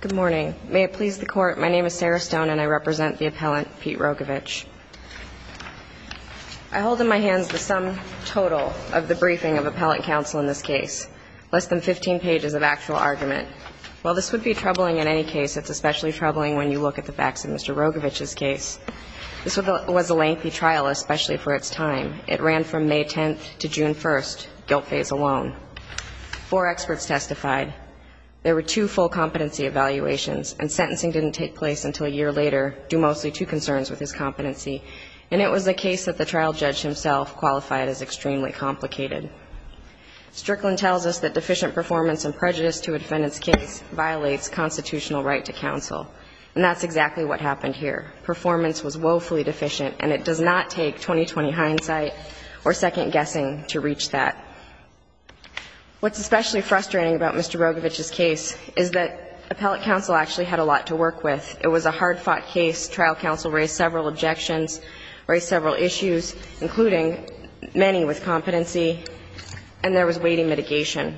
Good morning. May it please the court, my name is Sarah Stone and I represent the appellant Pete Rogovich. I hold in my hands the sum total of the briefing of appellant counsel in this case, less than 15 pages of actual argument. While this would be troubling in any case, it's especially troubling when you look at the facts of Mr. Rogovich's case. This was a lengthy trial, especially for its time. It ran from May 10th to June 1st, guilt phase alone. Four experts testified. There were two full competency evaluations and sentencing didn't take place until a year later, due mostly to concerns with his competency. And it was a case that the trial judge himself qualified as extremely complicated. Strickland tells us that deficient performance and prejudice to a defendant's case violates constitutional right to counsel. And that's exactly what happened here. Performance was woefully deficient and it does not take 20-20 hindsight or second-guessing to reach that. What's especially frustrating about Mr. Rogovich's case is that appellant counsel actually had a lot to work with. It was a hard-fought case. Trial counsel raised several objections, raised several issues, including many with competency, and there was weighty mitigation.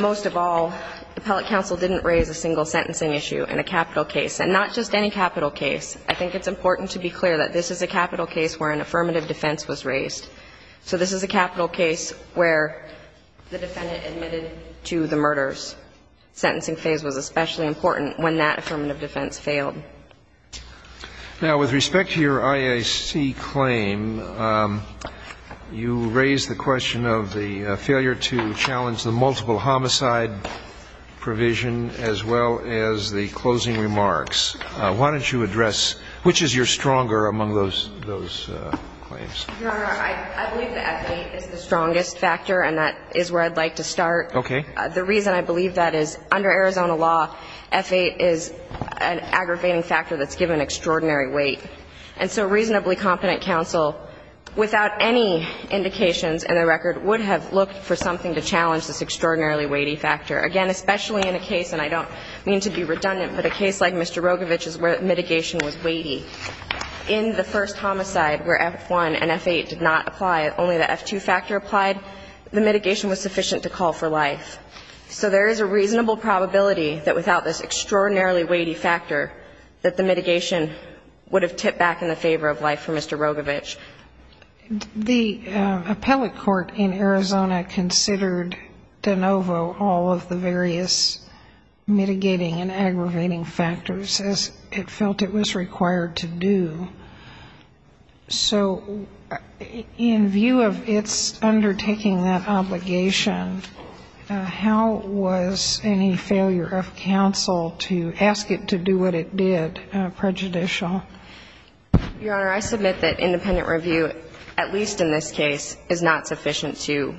Most of all, appellant counsel didn't raise a single sentencing issue in a capital case, and not just any capital case. I think it's important to be clear that this is a capital case where an affirmative defense was raised. So this is a capital case where the defendant admitted to the murders. Sentencing phase was especially important when that affirmative defense failed. Now, with respect to your IAC claim, you raised the question of the failure to challenge the multiple homicide provision, as well as the closing remarks. Why don't you address which is your stronger among those claims? Your Honor, I believe that F8 is the strongest factor, and that is where I'd like to start. Okay. The reason I believe that is under Arizona law, F8 is an aggravating factor that's given extraordinary weight. And so reasonably competent counsel, without any indications in the record, would have looked for something to challenge this extraordinarily weighty factor. Again, especially in a case, and I don't mean to be redundant, but a case like Mr. Rogovich's where mitigation was weighty. In the first homicide where F1 and F8 did not apply, only the F2 factor applied, the mitigation was sufficient to call for life. So there is a reasonable probability that without this extraordinarily weighty factor, that the mitigation would have tipped back in the favor of life for Mr. Rogovich. The appellate court in Arizona considered de novo all of the various mitigating and aggravating factors as it felt it was required to do. So in view of its undertaking that obligation, how was any failure of counsel to ask it to do what it did prejudicial? Your Honor, I submit that independent review, at least in this case, is not sufficient to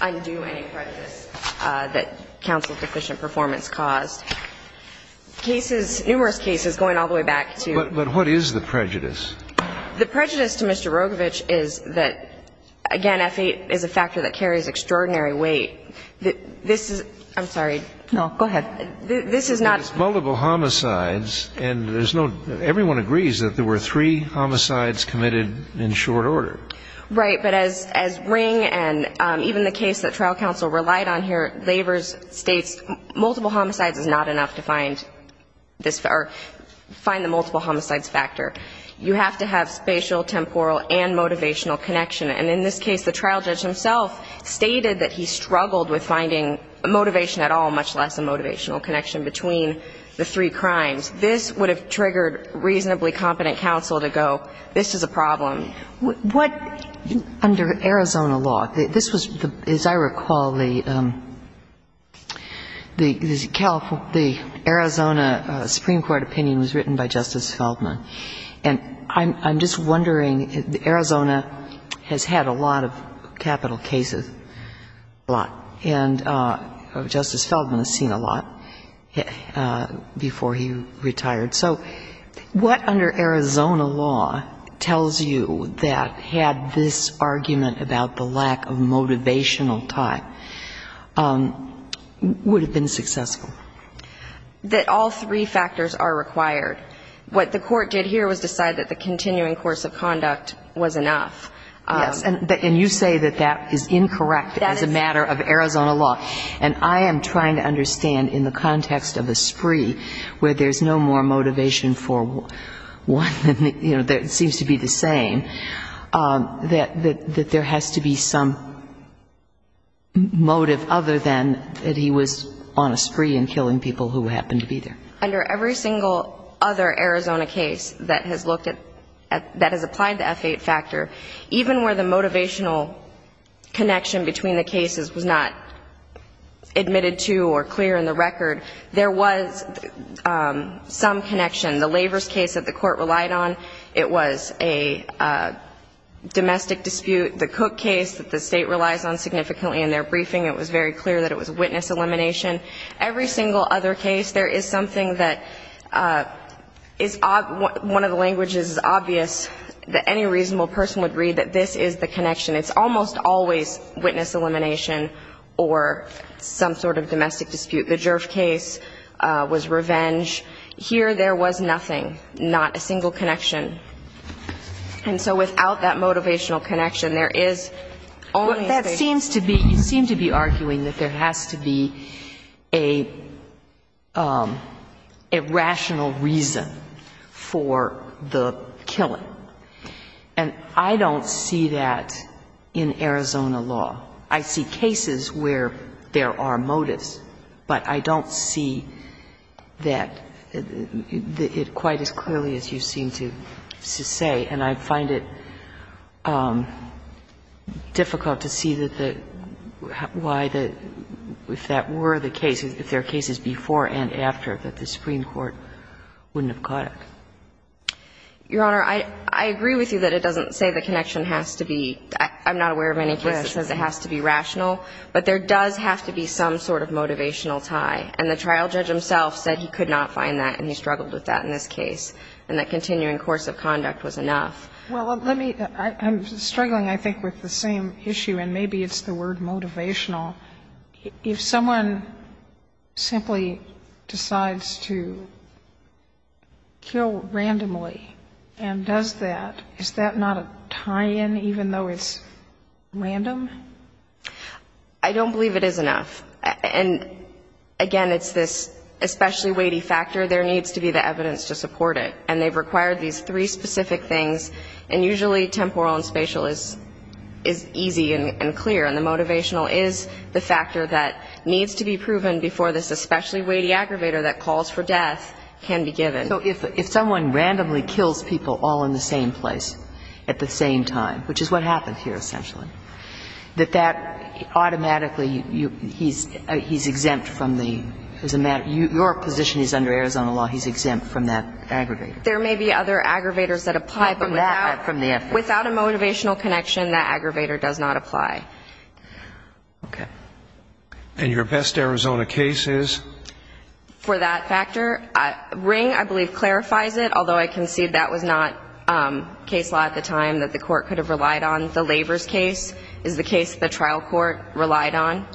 undo any prejudice that counsel's deficient performance caused. Cases, numerous cases, going all the way back to the prejudice to Mr. Rogovich is that, again, F8 is a factor that carries extraordinary weight. This is, I'm sorry. No, go ahead. This is not Multiple homicides, and there's no, everyone agrees that there were three homicides committed in short order. Right, but as Ring and even the case that trial counsel relied on here, Laver's states multiple homicides is not enough to find this, or find the multiple homicides factor. You have to have spatial, temporal, and motivational connection. And in this case, the trial judge himself stated that he struggled with finding motivation at all, much less a motivational connection between the three crimes. This would have triggered reasonably competent counsel to go, this is a problem. What, under Arizona law, this was, as I recall, the Arizona Supreme Court opinion was written by Justice Feldman. And I'm just wondering, Arizona has had a lot of capital cases, a lot, and Justice Feldman has seen a lot before he retired. So what under Arizona law tells you that had this argument about the lack of motivational tie would have been successful? That all three factors are required. What the court did here was decide that the continuing course of conduct was enough. Yes, and you say that that is incorrect as a matter of Arizona law. And I am trying to understand, in the context of a spree, where there's no more motivation for one, you know, it seems to be the same, that there has to be some motive other than that he was on a spree and killing people who happened to be there. Under every single other Arizona case that has looked at, that has applied the F8 factor, even where the motivational connection between the cases was not admitted to or clear in the record, there was some connection. The Lavers case that the court relied on, it was a domestic dispute. The Cook case that the State relies on significantly in their briefing, it was very clear that it was witness elimination. Every single other case, there is something that is one of the languages is obvious that any reasonable person would read, that this is the connection. It's almost always witness elimination or some sort of domestic dispute. The Jerv case was revenge. Here, there was nothing, not a single connection. And so without that motivational connection, there is only a statement. Well, that seems to be, you seem to be arguing that there has to be a rational reason for the killing. And I don't see that in Arizona law. I see cases where there are motives, but I don't see that quite as clearly as you seem to say. And I find it difficult to see that the why the, if that were the case, if there are motives, that the Supreme Court wouldn't have caught it. Your Honor, I agree with you that it doesn't say the connection has to be, I'm not aware of any case that says it has to be rational, but there does have to be some sort of motivational tie. And the trial judge himself said he could not find that and he struggled with that in this case, and that continuing course of conduct was enough. Well, let me, I'm struggling, I think, with the same issue, and maybe it's the word motivational. If someone simply decides to kill randomly and does that, is that not a tie-in, even though it's random? I don't believe it is enough. And, again, it's this especially weighty factor. There needs to be the evidence to support it. And they've required these three specific things, and usually temporal and spatial is easy and clear, and the motivational is the factor that needs to be proven before this especially weighty aggravator that calls for death can be given. So if someone randomly kills people all in the same place at the same time, which is what happened here, essentially, that that automatically, he's exempt from the, as a matter, your position is under Arizona law, he's exempt from that aggravator. There may be other aggravators that apply, but without a motivational connection, that aggravator does not apply. Okay. And your best Arizona case is? For that factor, Ring, I believe, clarifies it, although I concede that was not case law at the time that the court could have relied on. The Lavers case is the case the trial court relied on,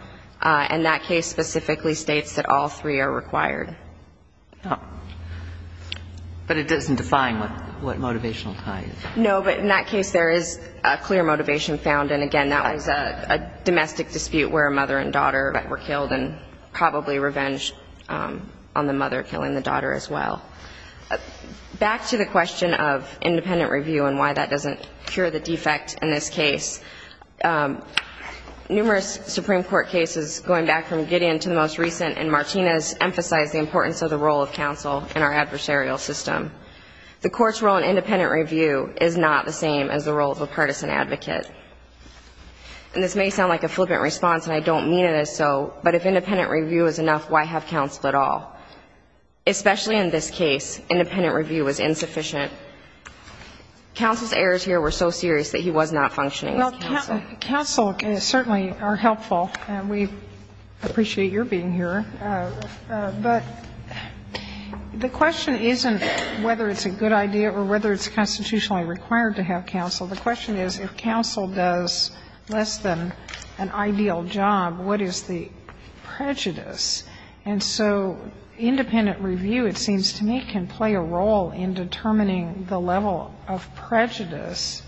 and that case specifically states that all three are required. But it doesn't define what motivational tie is. No, but in that case, there is a clear motivation found, and again, that was a domestic dispute where a mother and daughter were killed, and probably revenge on the mother killing the daughter as well. Back to the question of independent review and why that doesn't cure the defect in this case, numerous Supreme Court cases going back from Gideon to the most recent in Martinez emphasized the importance of the role of counsel in our adversarial system. The court's role in independent review is not the same as the role of a partisan advocate. And this may sound like a flippant response, and I don't mean it as so, but if independent review is enough, why have counsel at all? Especially in this case, independent review was insufficient. Counsel's errors here were so serious that he was not functioning as counsel. Counsel certainly are helpful, and we appreciate your being here. But the question isn't whether it's a good idea or whether it's constitutionally required to have counsel. The question is, if counsel does less than an ideal job, what is the prejudice? And so independent review, it seems to me, can play a role in determining the level of prejudice,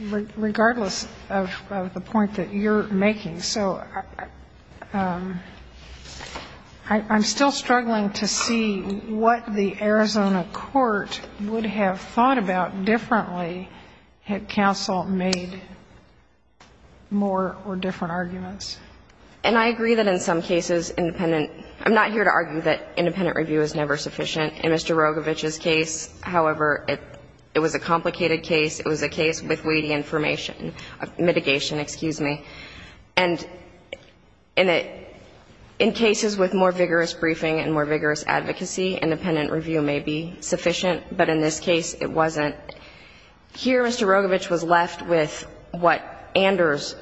regardless of the point that you're making. So I'm still struggling to see what the Arizona court would have thought about differently had counsel made more or different arguments. And I agree that in some cases, independent – I'm not here to argue that independent Rogovich's case, however, it was a complicated case. It was a case with weighty information – mitigation, excuse me. And in it – in cases with more vigorous briefing and more vigorous advocacy, independent review may be sufficient. But in this case, it wasn't. Here, Mr. Rogovich was left with what Anders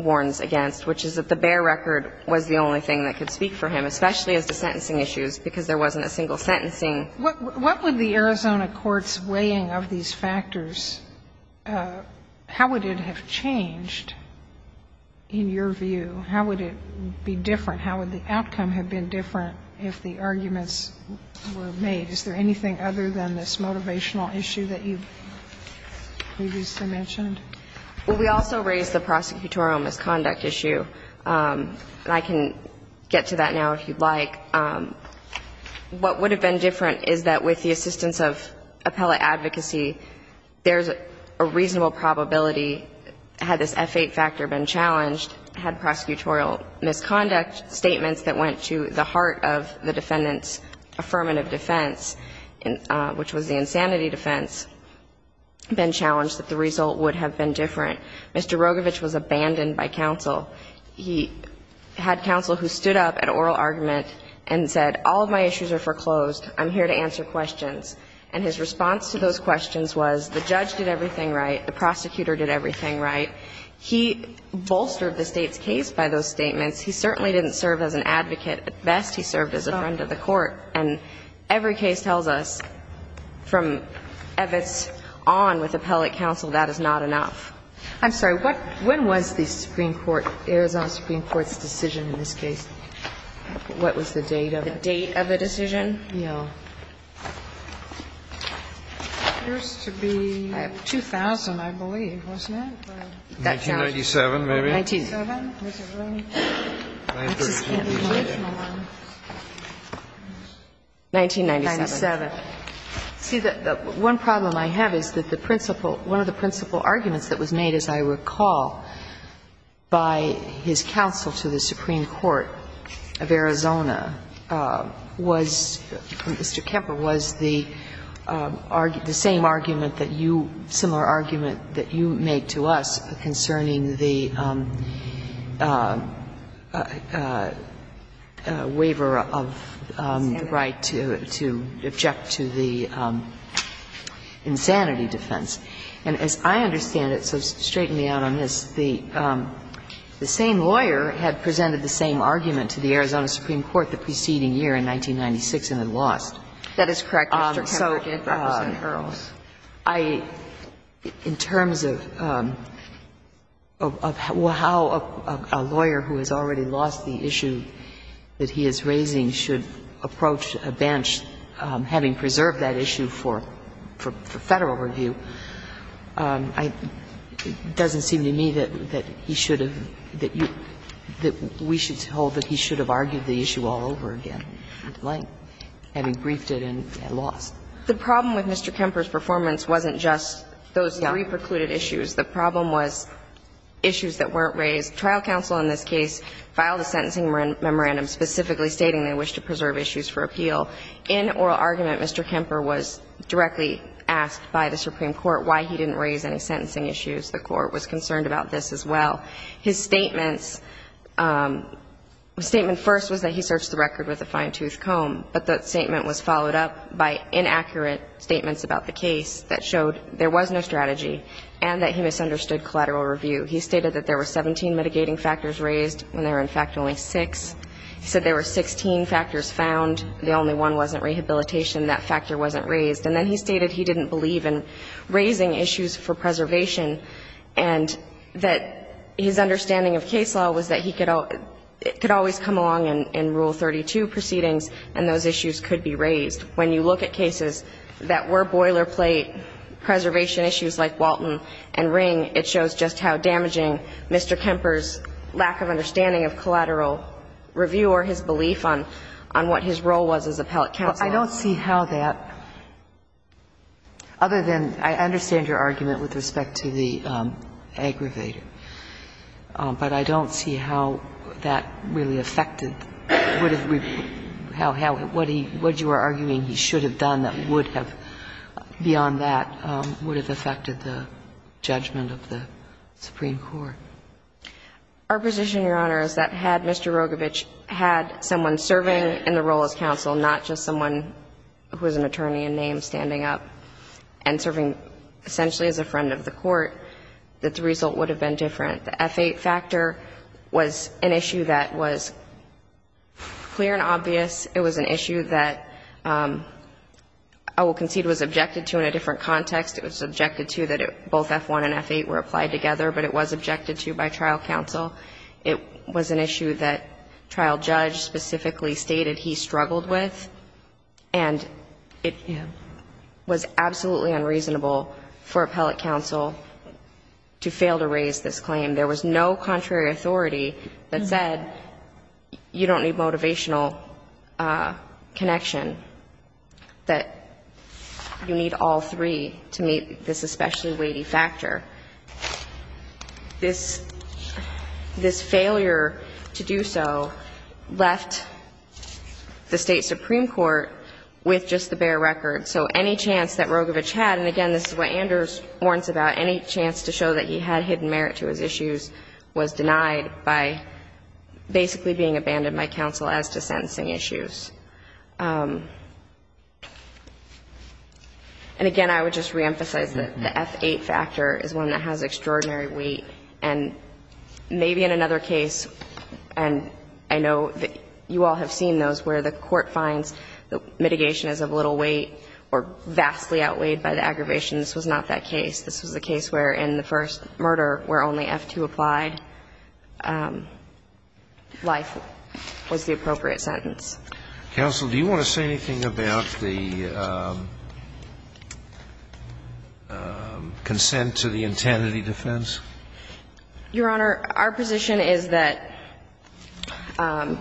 warns against, which is that the bear record was the only thing that could speak for him, especially as to sentencing issues, because there wasn't a single sentencing What would the Arizona court's weighing of these factors – how would it have changed in your view? How would it be different? How would the outcome have been different if the arguments were made? Is there anything other than this motivational issue that you've previously mentioned? Well, we also raised the prosecutorial misconduct issue, and I can get to that now if you'd like. What would have been different is that with the assistance of appellate advocacy, there's a reasonable probability, had this F-8 factor been challenged, had prosecutorial misconduct statements that went to the heart of the defendant's affirmative defense, which was the insanity defense, been challenged, that the result would have been different. Mr. Rogovich was abandoned by counsel. He had counsel who stood up at oral argument and said, all of my issues are foreclosed. I'm here to answer questions. And his response to those questions was, the judge did everything right. The prosecutor did everything right. He bolstered the State's case by those statements. He certainly didn't serve as an advocate at best. He served as a friend of the court. And every case tells us from Evitz on with the appellate counsel, that is not enough. I'm sorry. When was the Supreme Court, Arizona Supreme Court's decision in this case? What was the date of it? The date of the decision? Yeah. It appears to be 2000, I believe, wasn't it? 1997, maybe? 1997. 1997. See, the one problem I have is that the principal, one of the principal arguments that was made, as I recall, by his counsel to the Supreme Court of Arizona was, Mr. Kemper, was the argument, the same argument that you, similar argument that you made to us concerning the waiver of the right to object to the insanity defense. And as I understand it, so straighten me out on this, the same lawyer had presented the same argument to the Arizona Supreme Court the preceding year in 1996 and had lost. That is correct, Mr. Kemper did represent Earls. I, in terms of how a lawyer who has already lost the issue that he is raising should approach a bench having preserved that issue for Federal review, it doesn't seem to me that he should have, that we should hold that he should have argued the issue all over again, having briefed it and lost. The problem with Mr. Kemper's performance wasn't just those three precluded issues, the problem was issues that weren't raised. Trial counsel in this case filed a sentencing memorandum specifically stating they wished to preserve issues for appeal. In oral argument, Mr. Kemper was directly asked by the Supreme Court why he didn't raise any sentencing issues. The Court was concerned about this as well. His statements, statement first was that he searched the record with a fine-toothed but that statement was followed up by inaccurate statements about the case that showed there was no strategy and that he misunderstood collateral review. He stated that there were 17 mitigating factors raised when there were in fact only six. He said there were 16 factors found, the only one wasn't rehabilitation, that factor wasn't raised. And then he stated he didn't believe in raising issues for preservation and that his understanding of case law was that he could always come along in Rule 32 proceedings and those issues could be raised. When you look at cases that were boilerplate preservation issues like Walton and Ring, it shows just how damaging Mr. Kemper's lack of understanding of collateral review or his belief on what his role was as appellate counsel. I don't see how that, other than I understand your argument with respect to the aggravator, but I don't see how that really affected what you are arguing he should have done that would have, beyond that, would have affected the judgment of the Supreme Court. Our position, Your Honor, is that had Mr. Rogovich had someone serving in the role as counsel, not just someone who was an attorney in name standing up and serving essentially as a friend of the court, that the result would have been different. The F-8 factor was an issue that was clear and obvious. It was an issue that I will concede was objected to in a different context. It was objected to that both F-1 and F-8 were applied together, but it was objected to by trial counsel. It was an issue that trial judge specifically stated he struggled with, and it was absolutely unreasonable for appellate counsel to fail to raise this claim. There was no contrary authority that said you don't need motivational connection, that you need all three to meet this especially weighty factor. This failure to do so left the State Supreme Court with just the bare record. So any chance that Rogovich had, and again, this is what Anders warns about, any chance to show that he had hidden merit to his issues was denied by basically being abandoned by counsel as to sentencing issues. And again, I would just reemphasize that the F-8 factor is one that has extraordinary weight. And maybe in another case, and I know that you all have seen those where the court finds the mitigation is of little weight or vastly outweighed by the aggravation, this was not that case. This was a case where in the first murder where only F-2 applied, life was the appropriate sentence. Counsel, do you want to say anything about the consent to the intentity defense? Your Honor, our position is that the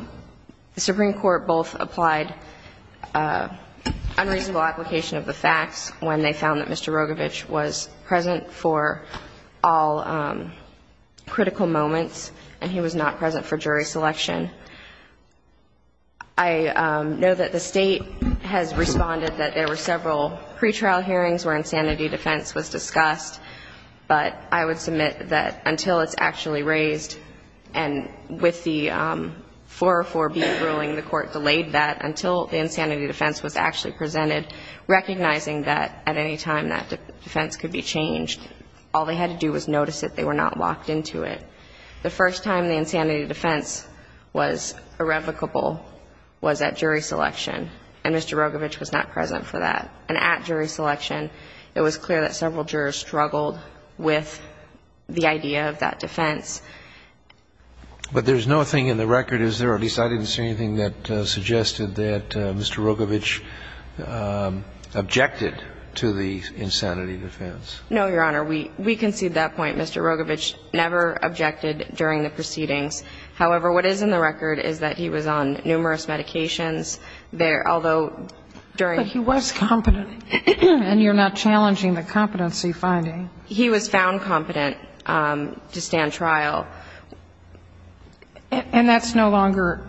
Supreme Court both applied unreasonable application of the facts when they found that Mr. Rogovich was present for all critical moments, and he was not present for jury selection. I know that the State has responded that there were several pretrial hearings where insanity defense was discussed. But I would submit that until it's actually raised, and with the 404B ruling, the Court delayed that until the insanity defense was actually presented, recognizing that at any time that defense could be changed, all they had to do was notice that they were not locked into it. The first time the insanity defense was irrevocable was at jury selection, and Mr. Rogovich was not present for that. And at jury selection, it was clear that several jurors struggled with the idea of that defense. But there's no thing in the record, is there? At least I didn't see anything that suggested that Mr. Rogovich objected to the insanity defense. No, Your Honor. We concede that point. Mr. Rogovich never objected during the proceedings. However, what is in the record is that he was on numerous medications. Although during the proceedings, he was found competent to stand trial. But he was competent. And you're not challenging the competency finding. He was found competent to stand trial. And that's no longer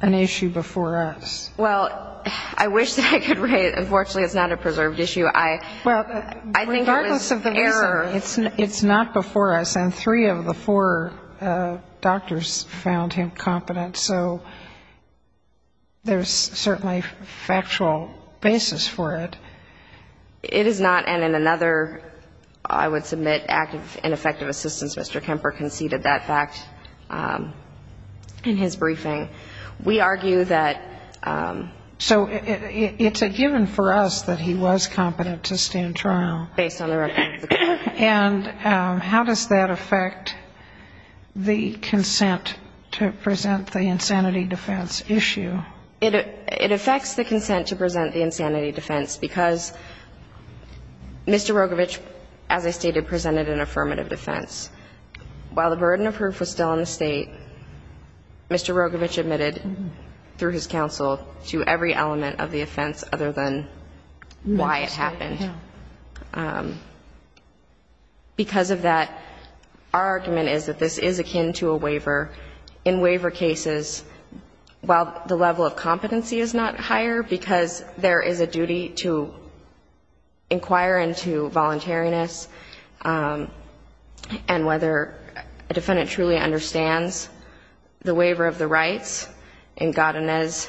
an issue before us. Well, I wish that I could raise it. Unfortunately, it's not a preserved issue. I think it was error. Well, regardless of the reason, it's not before us. And three of the four doctors found him competent. So there's certainly a factual basis for it. It is not. And in another, I would submit, active and effective assistance, Mr. Kemper conceded that fact in his briefing. We argue that. So it's a given for us that he was competent to stand trial. Based on the record. And how does that affect the consent to present the insanity defense issue? It affects the consent to present the insanity defense because Mr. Rogovich, as I stated, presented an affirmative defense. While the burden of proof was still in the State, Mr. Rogovich admitted through his counsel to every element of the offense other than why it happened. Because of that, our argument is that this is akin to a waiver. In waiver cases, while the level of competency is not higher because there is a duty to inquire into voluntariness and whether a defendant truly understands the waiver of the rights, in Godinez,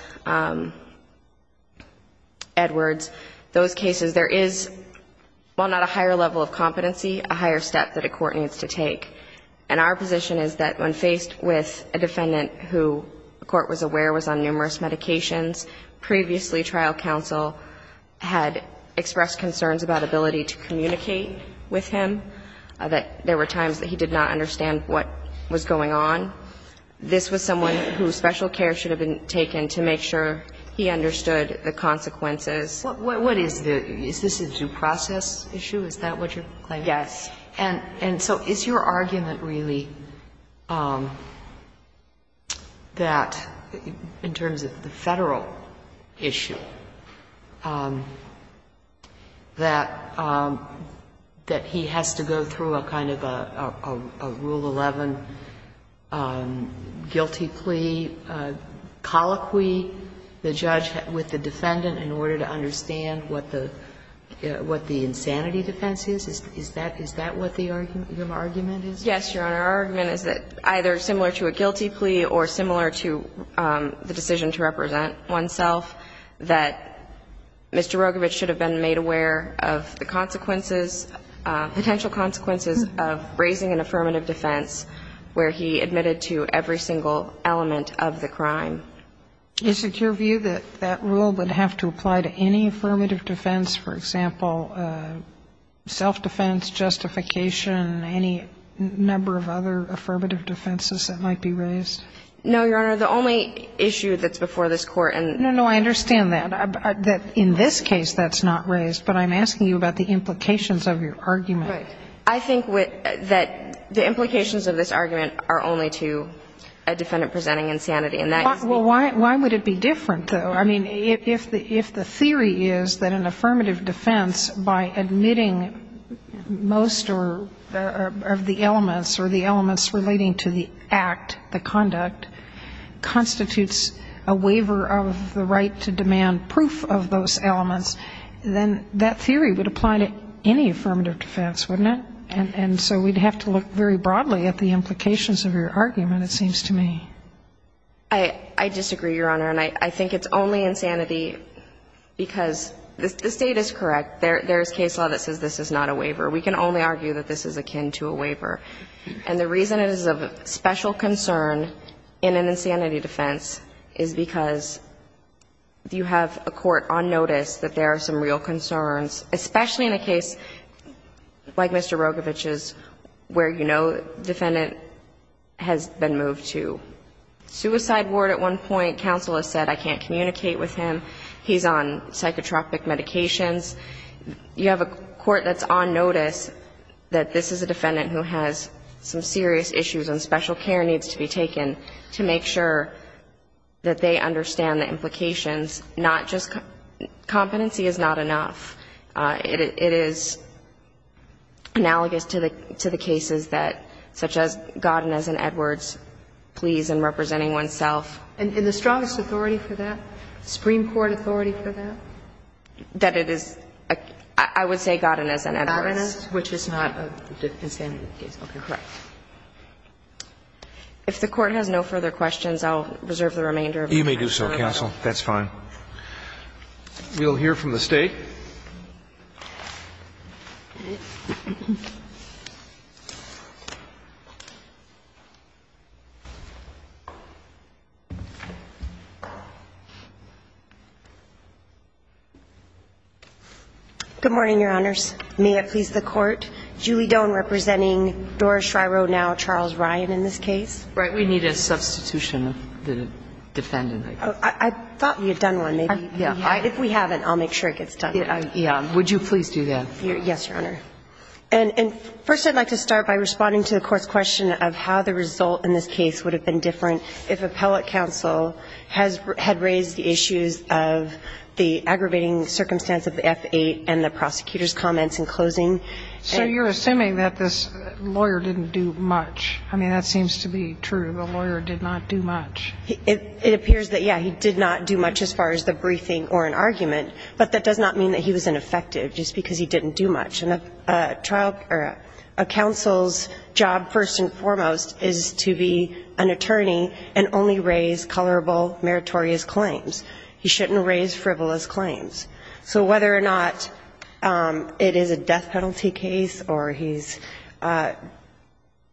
Edwards, those cases, there is, while not a higher level of competency, a higher step that a court needs to take. And our position is that when faced with a defendant who the court was aware was on numerous medications, previously trial counsel had expressed concerns about ability to communicate with him, that there were times that he did not understand what was going on. This was someone whose special care should have been taken to make sure he understood the consequences. What is this? Is this a due process issue? Is that what you're claiming? Yes. And so is your argument really that, in terms of the Federal issue, that he has to go through a kind of a Rule 11 guilty plea, colloquy the judge with the defendant in order to understand what the insanity defense is? Is that what the argument is? Yes, Your Honor. Our argument is that either similar to a guilty plea or similar to the decision to represent oneself, that Mr. Rogovich should have been made aware of the consequences, potential consequences, of raising an affirmative defense where he admitted to every single element of the crime. Is it your view that that rule would have to apply to any affirmative defense, for example, self-defense, justification, any number of other affirmative defenses that might be raised? No, Your Honor. The only issue that's before this Court in the case that Mr. Rogovich is facing I think that the implications of this argument are only to a defendant presenting insanity. Well, why would it be different, though? I mean, if the theory is that an affirmative defense, by admitting most of the elements or the elements relating to the act, the conduct, constitutes a waiver of the right to demand proof of those elements, then that theory would apply to any affirmative defense, wouldn't it? And so we'd have to look very broadly at the implications of your argument, it seems to me. I disagree, Your Honor. And I think it's only insanity because the State is correct. There is case law that says this is not a waiver. We can only argue that this is akin to a waiver. And the reason it is of special concern in an insanity defense is because you have a court on notice that there are some real concerns, especially in a case like Mr. Rogovich's where you know the defendant has been moved to suicide ward at one point. Counsel has said, I can't communicate with him. He's on psychotropic medications. You have a court that's on notice that this is a defendant who has some serious issues and special care needs to be taken to make sure that they understand the implications, not just competency is not enough. It is analogous to the cases such as Godinez and Edwards' pleas in representing oneself. And the strongest authority for that, Supreme Court authority for that? That it is, I would say Godinez and Edwards. Godinez, which is not an insanity case. Correct. If the Court has no further questions, I'll reserve the remainder of the time. You may do so, counsel. That's fine. We'll hear from the State. Good morning, Your Honors. May it please the Court. Julie Doan representing Doris Shriver, now Charles Ryan, in this case. Right. We need a substitution of the defendant, I guess. I thought we had done one. Yeah. If we haven't, I'll make sure it gets done. Yeah. Would you please do that? Yes, Your Honor. And first I'd like to start by responding to the Court's question of how the result in this case would have been different if appellate counsel had raised the issues of the aggravating circumstance of the F-8 and the prosecutor's comments in closing. So you're assuming that this lawyer didn't do much. I mean, that seems to be true. The lawyer did not do much. It appears that, yeah, he did not do much as far as the briefing or an argument, but that does not mean that he was ineffective just because he didn't do much. And a trial or a counsel's job, first and foremost, is to be an attorney and only raise colorable, meritorious claims. He shouldn't raise frivolous claims. So whether or not it is a death penalty case or he's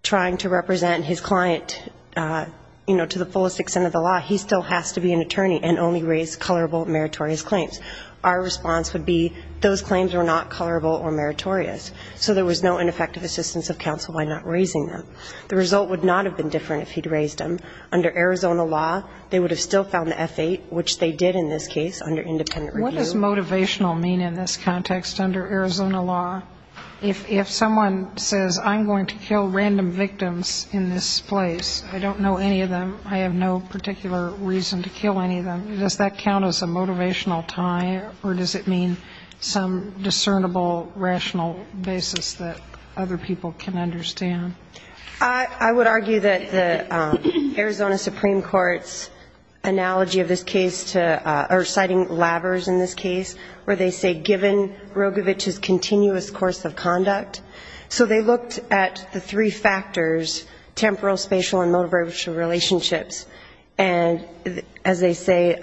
trying to represent his client, you know, to the fullest extent of the law, he still has to be an attorney and only raise colorable, meritorious claims. Our response would be those claims were not colorable or meritorious, so there was no ineffective assistance of counsel by not raising them. The result would not have been different if he'd raised them. Under Arizona law, they would have still found the F-8, which they did in this case under independent review. What does motivational mean in this context under Arizona law? If someone says, I'm going to kill random victims in this place, I don't know any of them, I have no particular reason to kill any of them, does that count as a motivational tie or does it mean some discernible, rational basis that other people can understand? I would argue that the Arizona Supreme Court's analogy of this case to or citing labors in this case where they say given Rogovich's continuous course of conduct, so they looked at the three factors, temporal, spatial, and motivational relationships, and as they say,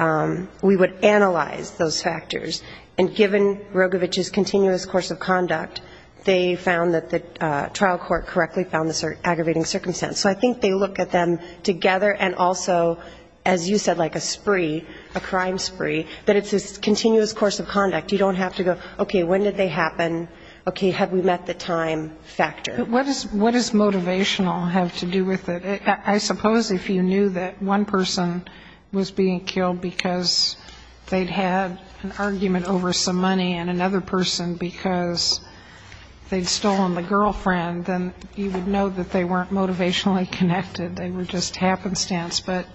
we would analyze those factors. And given Rogovich's continuous course of conduct, they found that the trial court correctly found this aggravating circumstance. So I think they look at them together and also, as you said, like a spree, a crime spree, that it's this continuous course of conduct. You don't have to go, okay, when did they happen? Okay, have we met the time factor? But what does motivational have to do with it? I suppose if you knew that one person was being killed because they'd had an argument over some money and another person because they'd stolen the girlfriend, then you would know that they weren't motivationally connected. They were just happenstance. But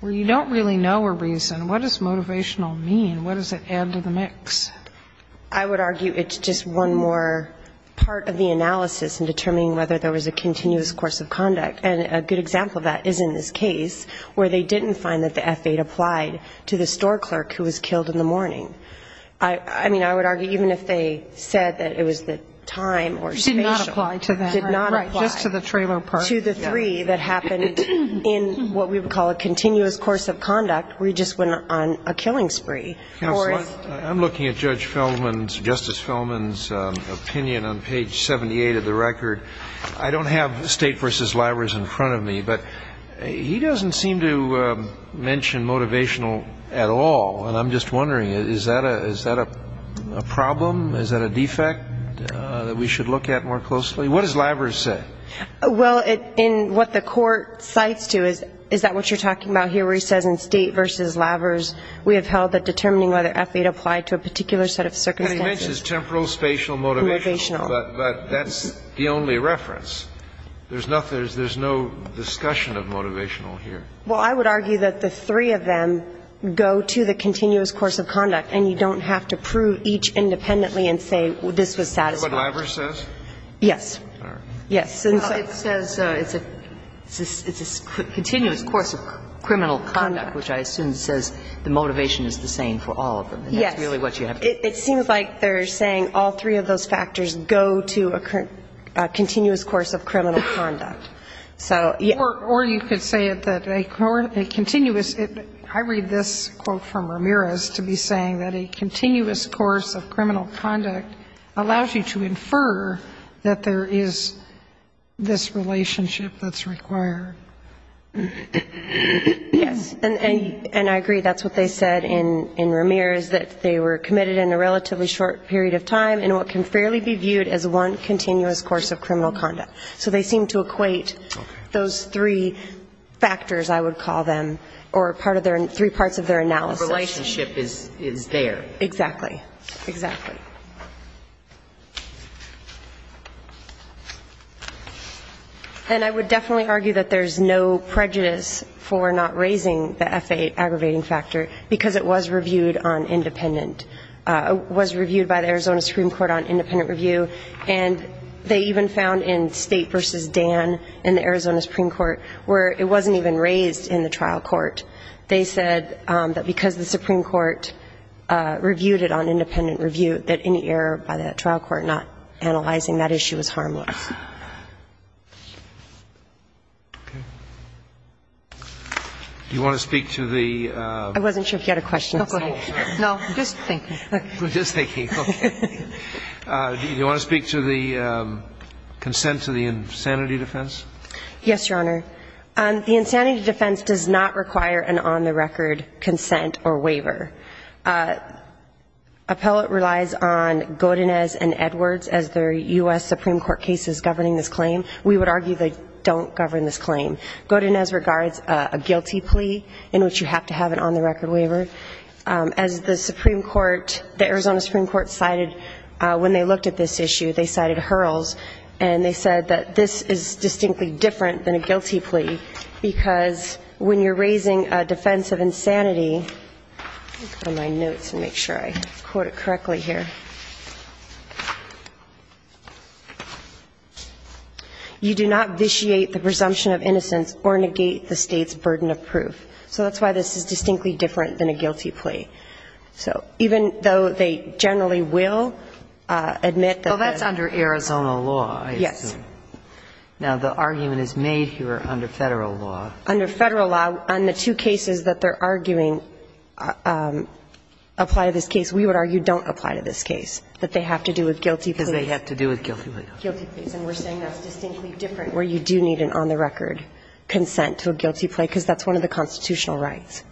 where you don't really know a reason, what does motivational mean? What does it add to the mix? I would argue it's just one more part of the analysis in determining whether there was a continuous course of conduct. And a good example of that is in this case where they didn't find that the F-8 applied to the store clerk who was killed in the morning. I mean, I would argue even if they said that it was the time or spatial. Did not apply to that. Did not apply. Just to the trailer part. To the three that happened in what we would call a continuous course of conduct where you just went on a killing spree. Counsel, I'm looking at Judge Feldman's, Justice Feldman's opinion on page 78 of the record. I don't have State v. Libraries in front of me, but he doesn't seem to mention motivational at all. And I'm just wondering, is that a problem? Is that a defect that we should look at more closely? What does Lavers say? Well, in what the court cites to is that what you're talking about here where he says in State v. Lavers we have held that determining whether F-8 applied to a particular set of circumstances. And he mentions temporal, spatial, motivational. But that's the only reference. There's no discussion of motivational here. Well, I would argue that the three of them go to the continuous course of conduct and you don't have to prove each independently and say this was satisfactory. Is that what Lavers says? Yes. All right. Yes. Well, it says it's a continuous course of criminal conduct, which I assume says the motivation is the same for all of them. Yes. And that's really what you have to say. It seems like they're saying all three of those factors go to a continuous course of criminal conduct. Or you could say that a continuous, I read this quote from Ramirez to be saying that a continuous course of criminal conduct allows you to infer that there is this relationship that's required. Yes. And I agree. That's what they said in Ramirez, that they were committed in a relatively short period of time in what can fairly be viewed as one continuous course of criminal conduct. So they seem to equate those three factors, I would call them, or part of their, three parts of their analysis. The relationship is there. Exactly. Exactly. And I would definitely argue that there's no prejudice for not raising the FAA aggravating factor, because it was reviewed on independent, was reviewed by the Arizona Supreme Court on independent review. And they even found in State v. Dan in the Arizona Supreme Court where it wasn't even raised in the trial court, they said that because the Supreme Court reviewed it on independent review, that any error by that trial court not analyzing that issue is harmless. Do you want to speak to the ---- I wasn't sure if you had a question. No, go ahead. No, just thinking. Just thinking. Okay. Do you want to speak to the consent to the insanity defense? Yes, Your Honor. The insanity defense does not require an on-the-record consent or waiver. Appellate relies on Godinez and Edwards as their U.S. Supreme Court cases governing this claim. We would argue they don't govern this claim. Godinez regards a guilty plea in which you have to have an on-the-record waiver. As the Supreme Court, the Arizona Supreme Court cited when they looked at this issue, they cited hurls. And they said that this is distinctly different than a guilty plea because when you're raising a defense of insanity, let me look at my notes and make sure I quote it correctly here, you do not vitiate the presumption of innocence or negate the State's burden of proof. So that's why this is distinctly different than a guilty plea. So even though they generally will admit that the ---- Well, that's under Arizona law, I assume. Yes. Now, the argument is made here under Federal law. Under Federal law, on the two cases that they're arguing apply to this case, we would argue don't apply to this case, that they have to do with guilty pleas. Because they have to do with guilty pleas. Guilty pleas. And we're saying that's distinctly different where you do need an on-the-record consent to a guilty plea because that's one of the constitutional rights,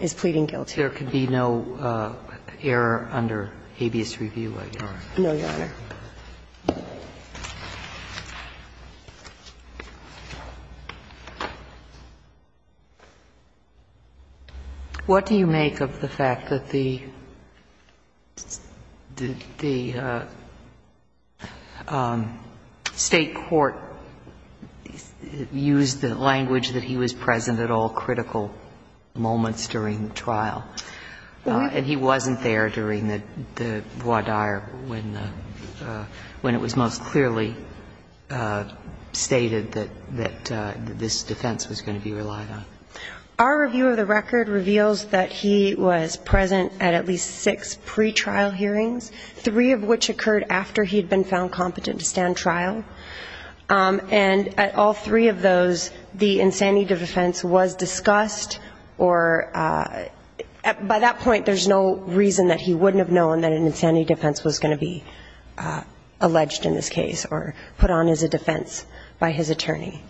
is pleading guilty. So there could be no error under habeas review, Your Honor? No, Your Honor. What do you make of the fact that the State court used the language that he was present at all critical moments during the trial? And he wasn't there during the voir dire when it was most clearly stated that this defense was going to be relied on? Our review of the record reveals that he was present at at least six pretrial hearings, three of which occurred after he had been found competent to stand trial. And at all three of those, the insanity defense was discussed or, by that point, there's no reason that he wouldn't have known that an insanity defense was going to be alleged in this case or put on as a defense by his attorney.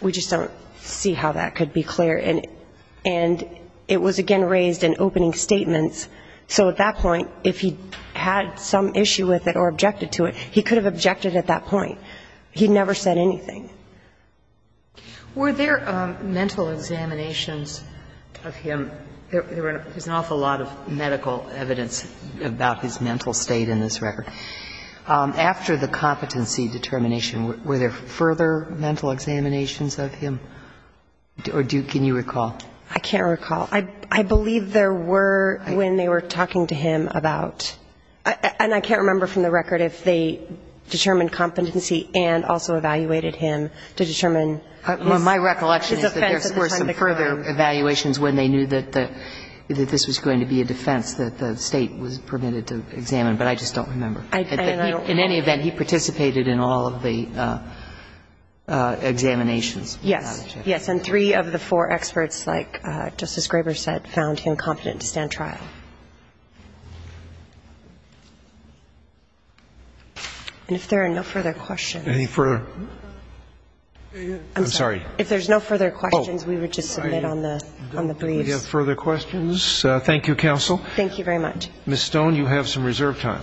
We just don't see how that could be clear. And it was, again, raised in opening statements. So at that point, if he had some issue with it or objected to it, he could have objected at that point. He never said anything. Were there mental examinations of him? There's an awful lot of medical evidence about his mental state in this record. After the competency determination, were there further mental examinations of him? Or can you recall? I can't recall. I believe there were when they were talking to him about – and I can't remember from the record if they determined competency and also evaluated him to determine his offense at the time of the crime. My recollection is that there were some further evaluations when they knew that this was going to be a defense that the State was permitted to examine. But I just don't remember. In any event, he participated in all of the examinations. Yes. Yes, and three of the four experts, like Justice Graber said, found him competent to stand trial. And if there are no further questions. Any further? I'm sorry. If there's no further questions, we would just submit on the briefs. We have further questions. Thank you, counsel. Thank you very much. Ms. Stone, you have some reserve time.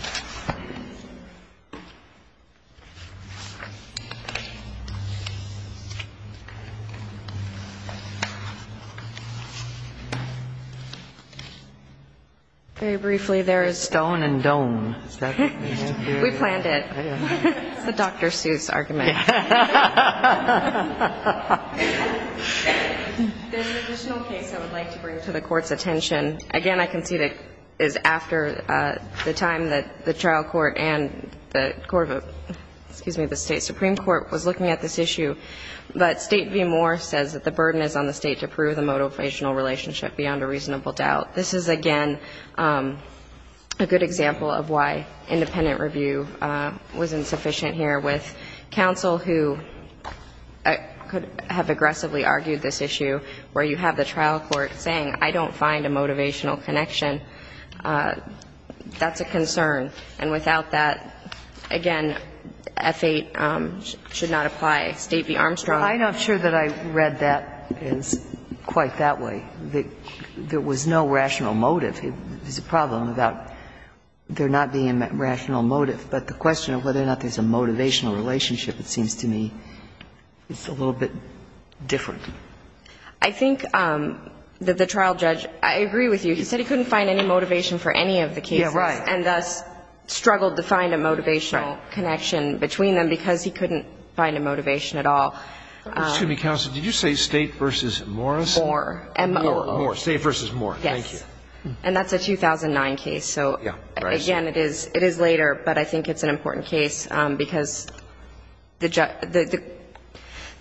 Very briefly, there is – Stone and Doan. We planned it. It's the Dr. Seuss argument. There's an additional case I would like to bring to the Court's attention. Again, I can see that it is after the time that the State has decided on this case. The trial court and the court of – excuse me, the State Supreme Court was looking at this issue. But State v. Moore says that the burden is on the State to prove the motivational relationship beyond a reasonable doubt. This is, again, a good example of why independent review was insufficient here with counsel who could have aggressively argued this issue where you have the trial court saying, I don't find a motivational connection. That's a concern. And without that, again, F-8 should not apply. State v. Armstrong. I'm not sure that I read that as quite that way. There was no rational motive. There's a problem about there not being a rational motive. But the question of whether or not there's a motivational relationship, it seems to me, is a little bit different. I think that the trial judge – I agree with you. He said he couldn't find any motivation for any of the cases. Yeah, right. And thus struggled to find a motivational connection between them because he couldn't find a motivation at all. Excuse me, counsel. Did you say State v. Morris? Moore. Moore. Moore. State v. Moore. Yes. Thank you. And that's a 2009 case. So, again, it is later, but I think it's an important case because the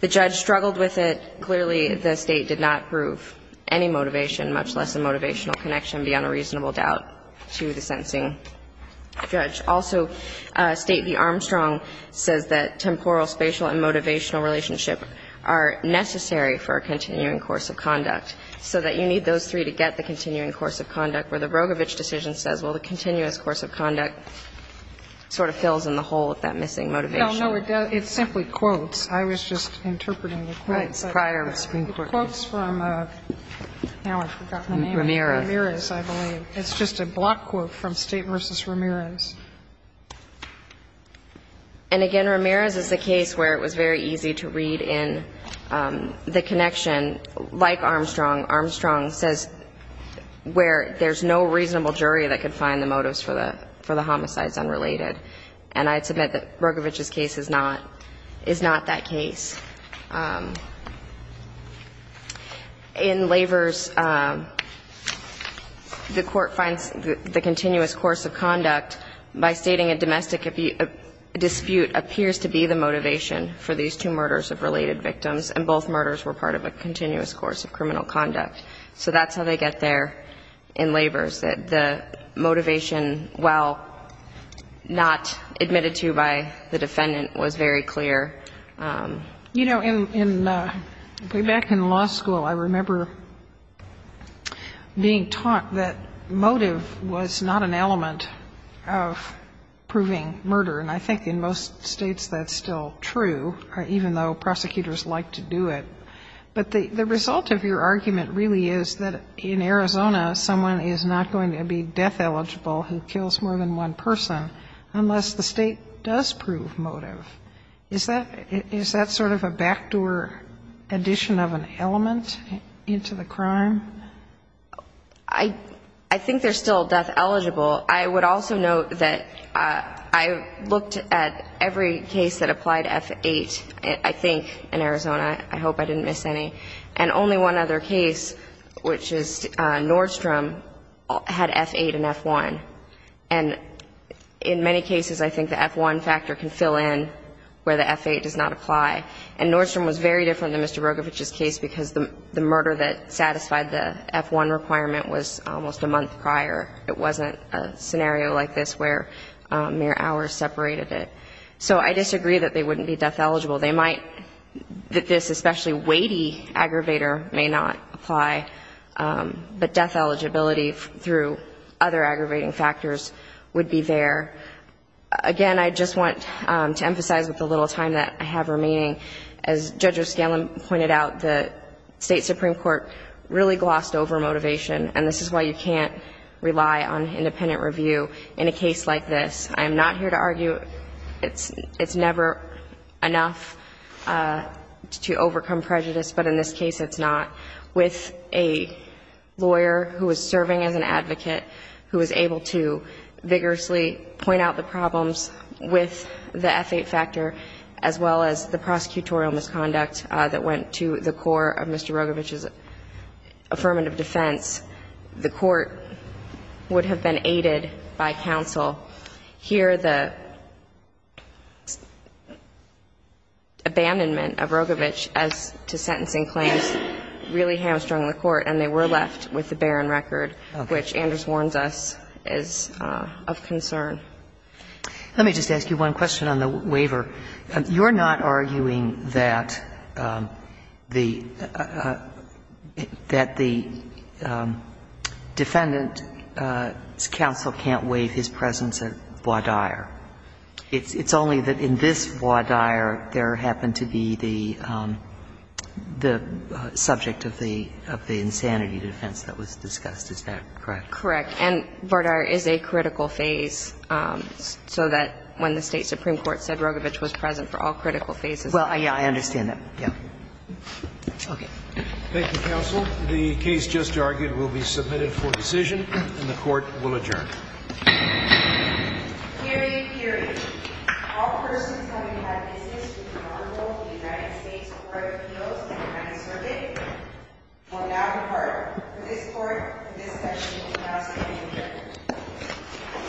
judge struggled with it. Clearly, the State did not prove any motivation, much less a motivational connection beyond a reasonable doubt, to the sentencing judge. Also, State v. Armstrong says that temporal, spatial, and motivational relationship are necessary for a continuing course of conduct, so that you need those three to get the continuing course of conduct, where the Rogovich decision says, well, the continuous course of conduct sort of fills in the hole with that missing motivation. No, no. It simply quotes. I was just interpreting the quotes. The quotes from, now I've forgotten the name. Ramirez, I believe. It's just a block quote from State v. Ramirez. And, again, Ramirez is a case where it was very easy to read in the connection like Armstrong. Armstrong says where there's no reasonable jury that could find the motives for the homicides unrelated. And I'd submit that Rogovich's case is not that case. In Laver's, the court finds the continuous course of conduct by stating a domestic dispute appears to be the motivation for these two murders of related victims, and both murders were part of a continuous course of criminal conduct. So that's how they get there in Laver's, that the motivation, while not necessarily admitted to by the defendant, was very clear. You know, back in law school, I remember being taught that motive was not an element of proving murder. And I think in most states that's still true, even though prosecutors like to do it. But the result of your argument really is that in Arizona, someone is not going to be death-eligible who kills more than one person unless the State does prove motive. Is that sort of a backdoor addition of an element into the crime? I think they're still death-eligible. I would also note that I looked at every case that applied F-8, I think, in Arizona. I hope I didn't miss any. And only one other case, which is Nordstrom, had F-8 and F-1. And in many cases, I think the F-1 factor can fill in where the F-8 does not apply. And Nordstrom was very different than Mr. Rogovich's case because the murder that satisfied the F-1 requirement was almost a month prior. It wasn't a scenario like this where mere hours separated it. So I disagree that they wouldn't be death-eligible. They might, that this especially weighty aggravator may not apply, but death eligibility through other aggravating factors would be there. Again, I just want to emphasize with the little time that I have remaining, as Judge O'Scallion pointed out, the State Supreme Court really glossed over motivation, and this is why you can't rely on independent review in a case like this. I am not here to argue it's never enough to overcome prejudice, but in this case, it's not. With a lawyer who is serving as an advocate, who is able to vigorously point out the problems with the F-8 factor, as well as the prosecutorial misconduct that went to the core of Mr. Rogovich's affirmative defense, the Court would have been aided by counsel. Here, the abandonment of Rogovich as to sentencing claims really hamstrung the Court, and they were left with the barren record, which, Anders warns us, is of concern. Let me just ask you one question on the waiver. You're not arguing that the defendant's counsel can't waive his presence at Vardyar. It's only that in this Vardyar, there happened to be the subject of the insanity defense that was discussed, is that correct? Correct. And Vardyar is a critical phase, so that when the State supreme court said Rogovich was present for all critical phases. Well, yeah, I understand that. Yeah. Okay. Thank you, counsel. The case just argued will be submitted for decision, and the Court will adjourn. Period, period. All persons having had business with the Honorable United States Court of Appeals and the United States Circuit will now depart. For this Court, this session will now begin.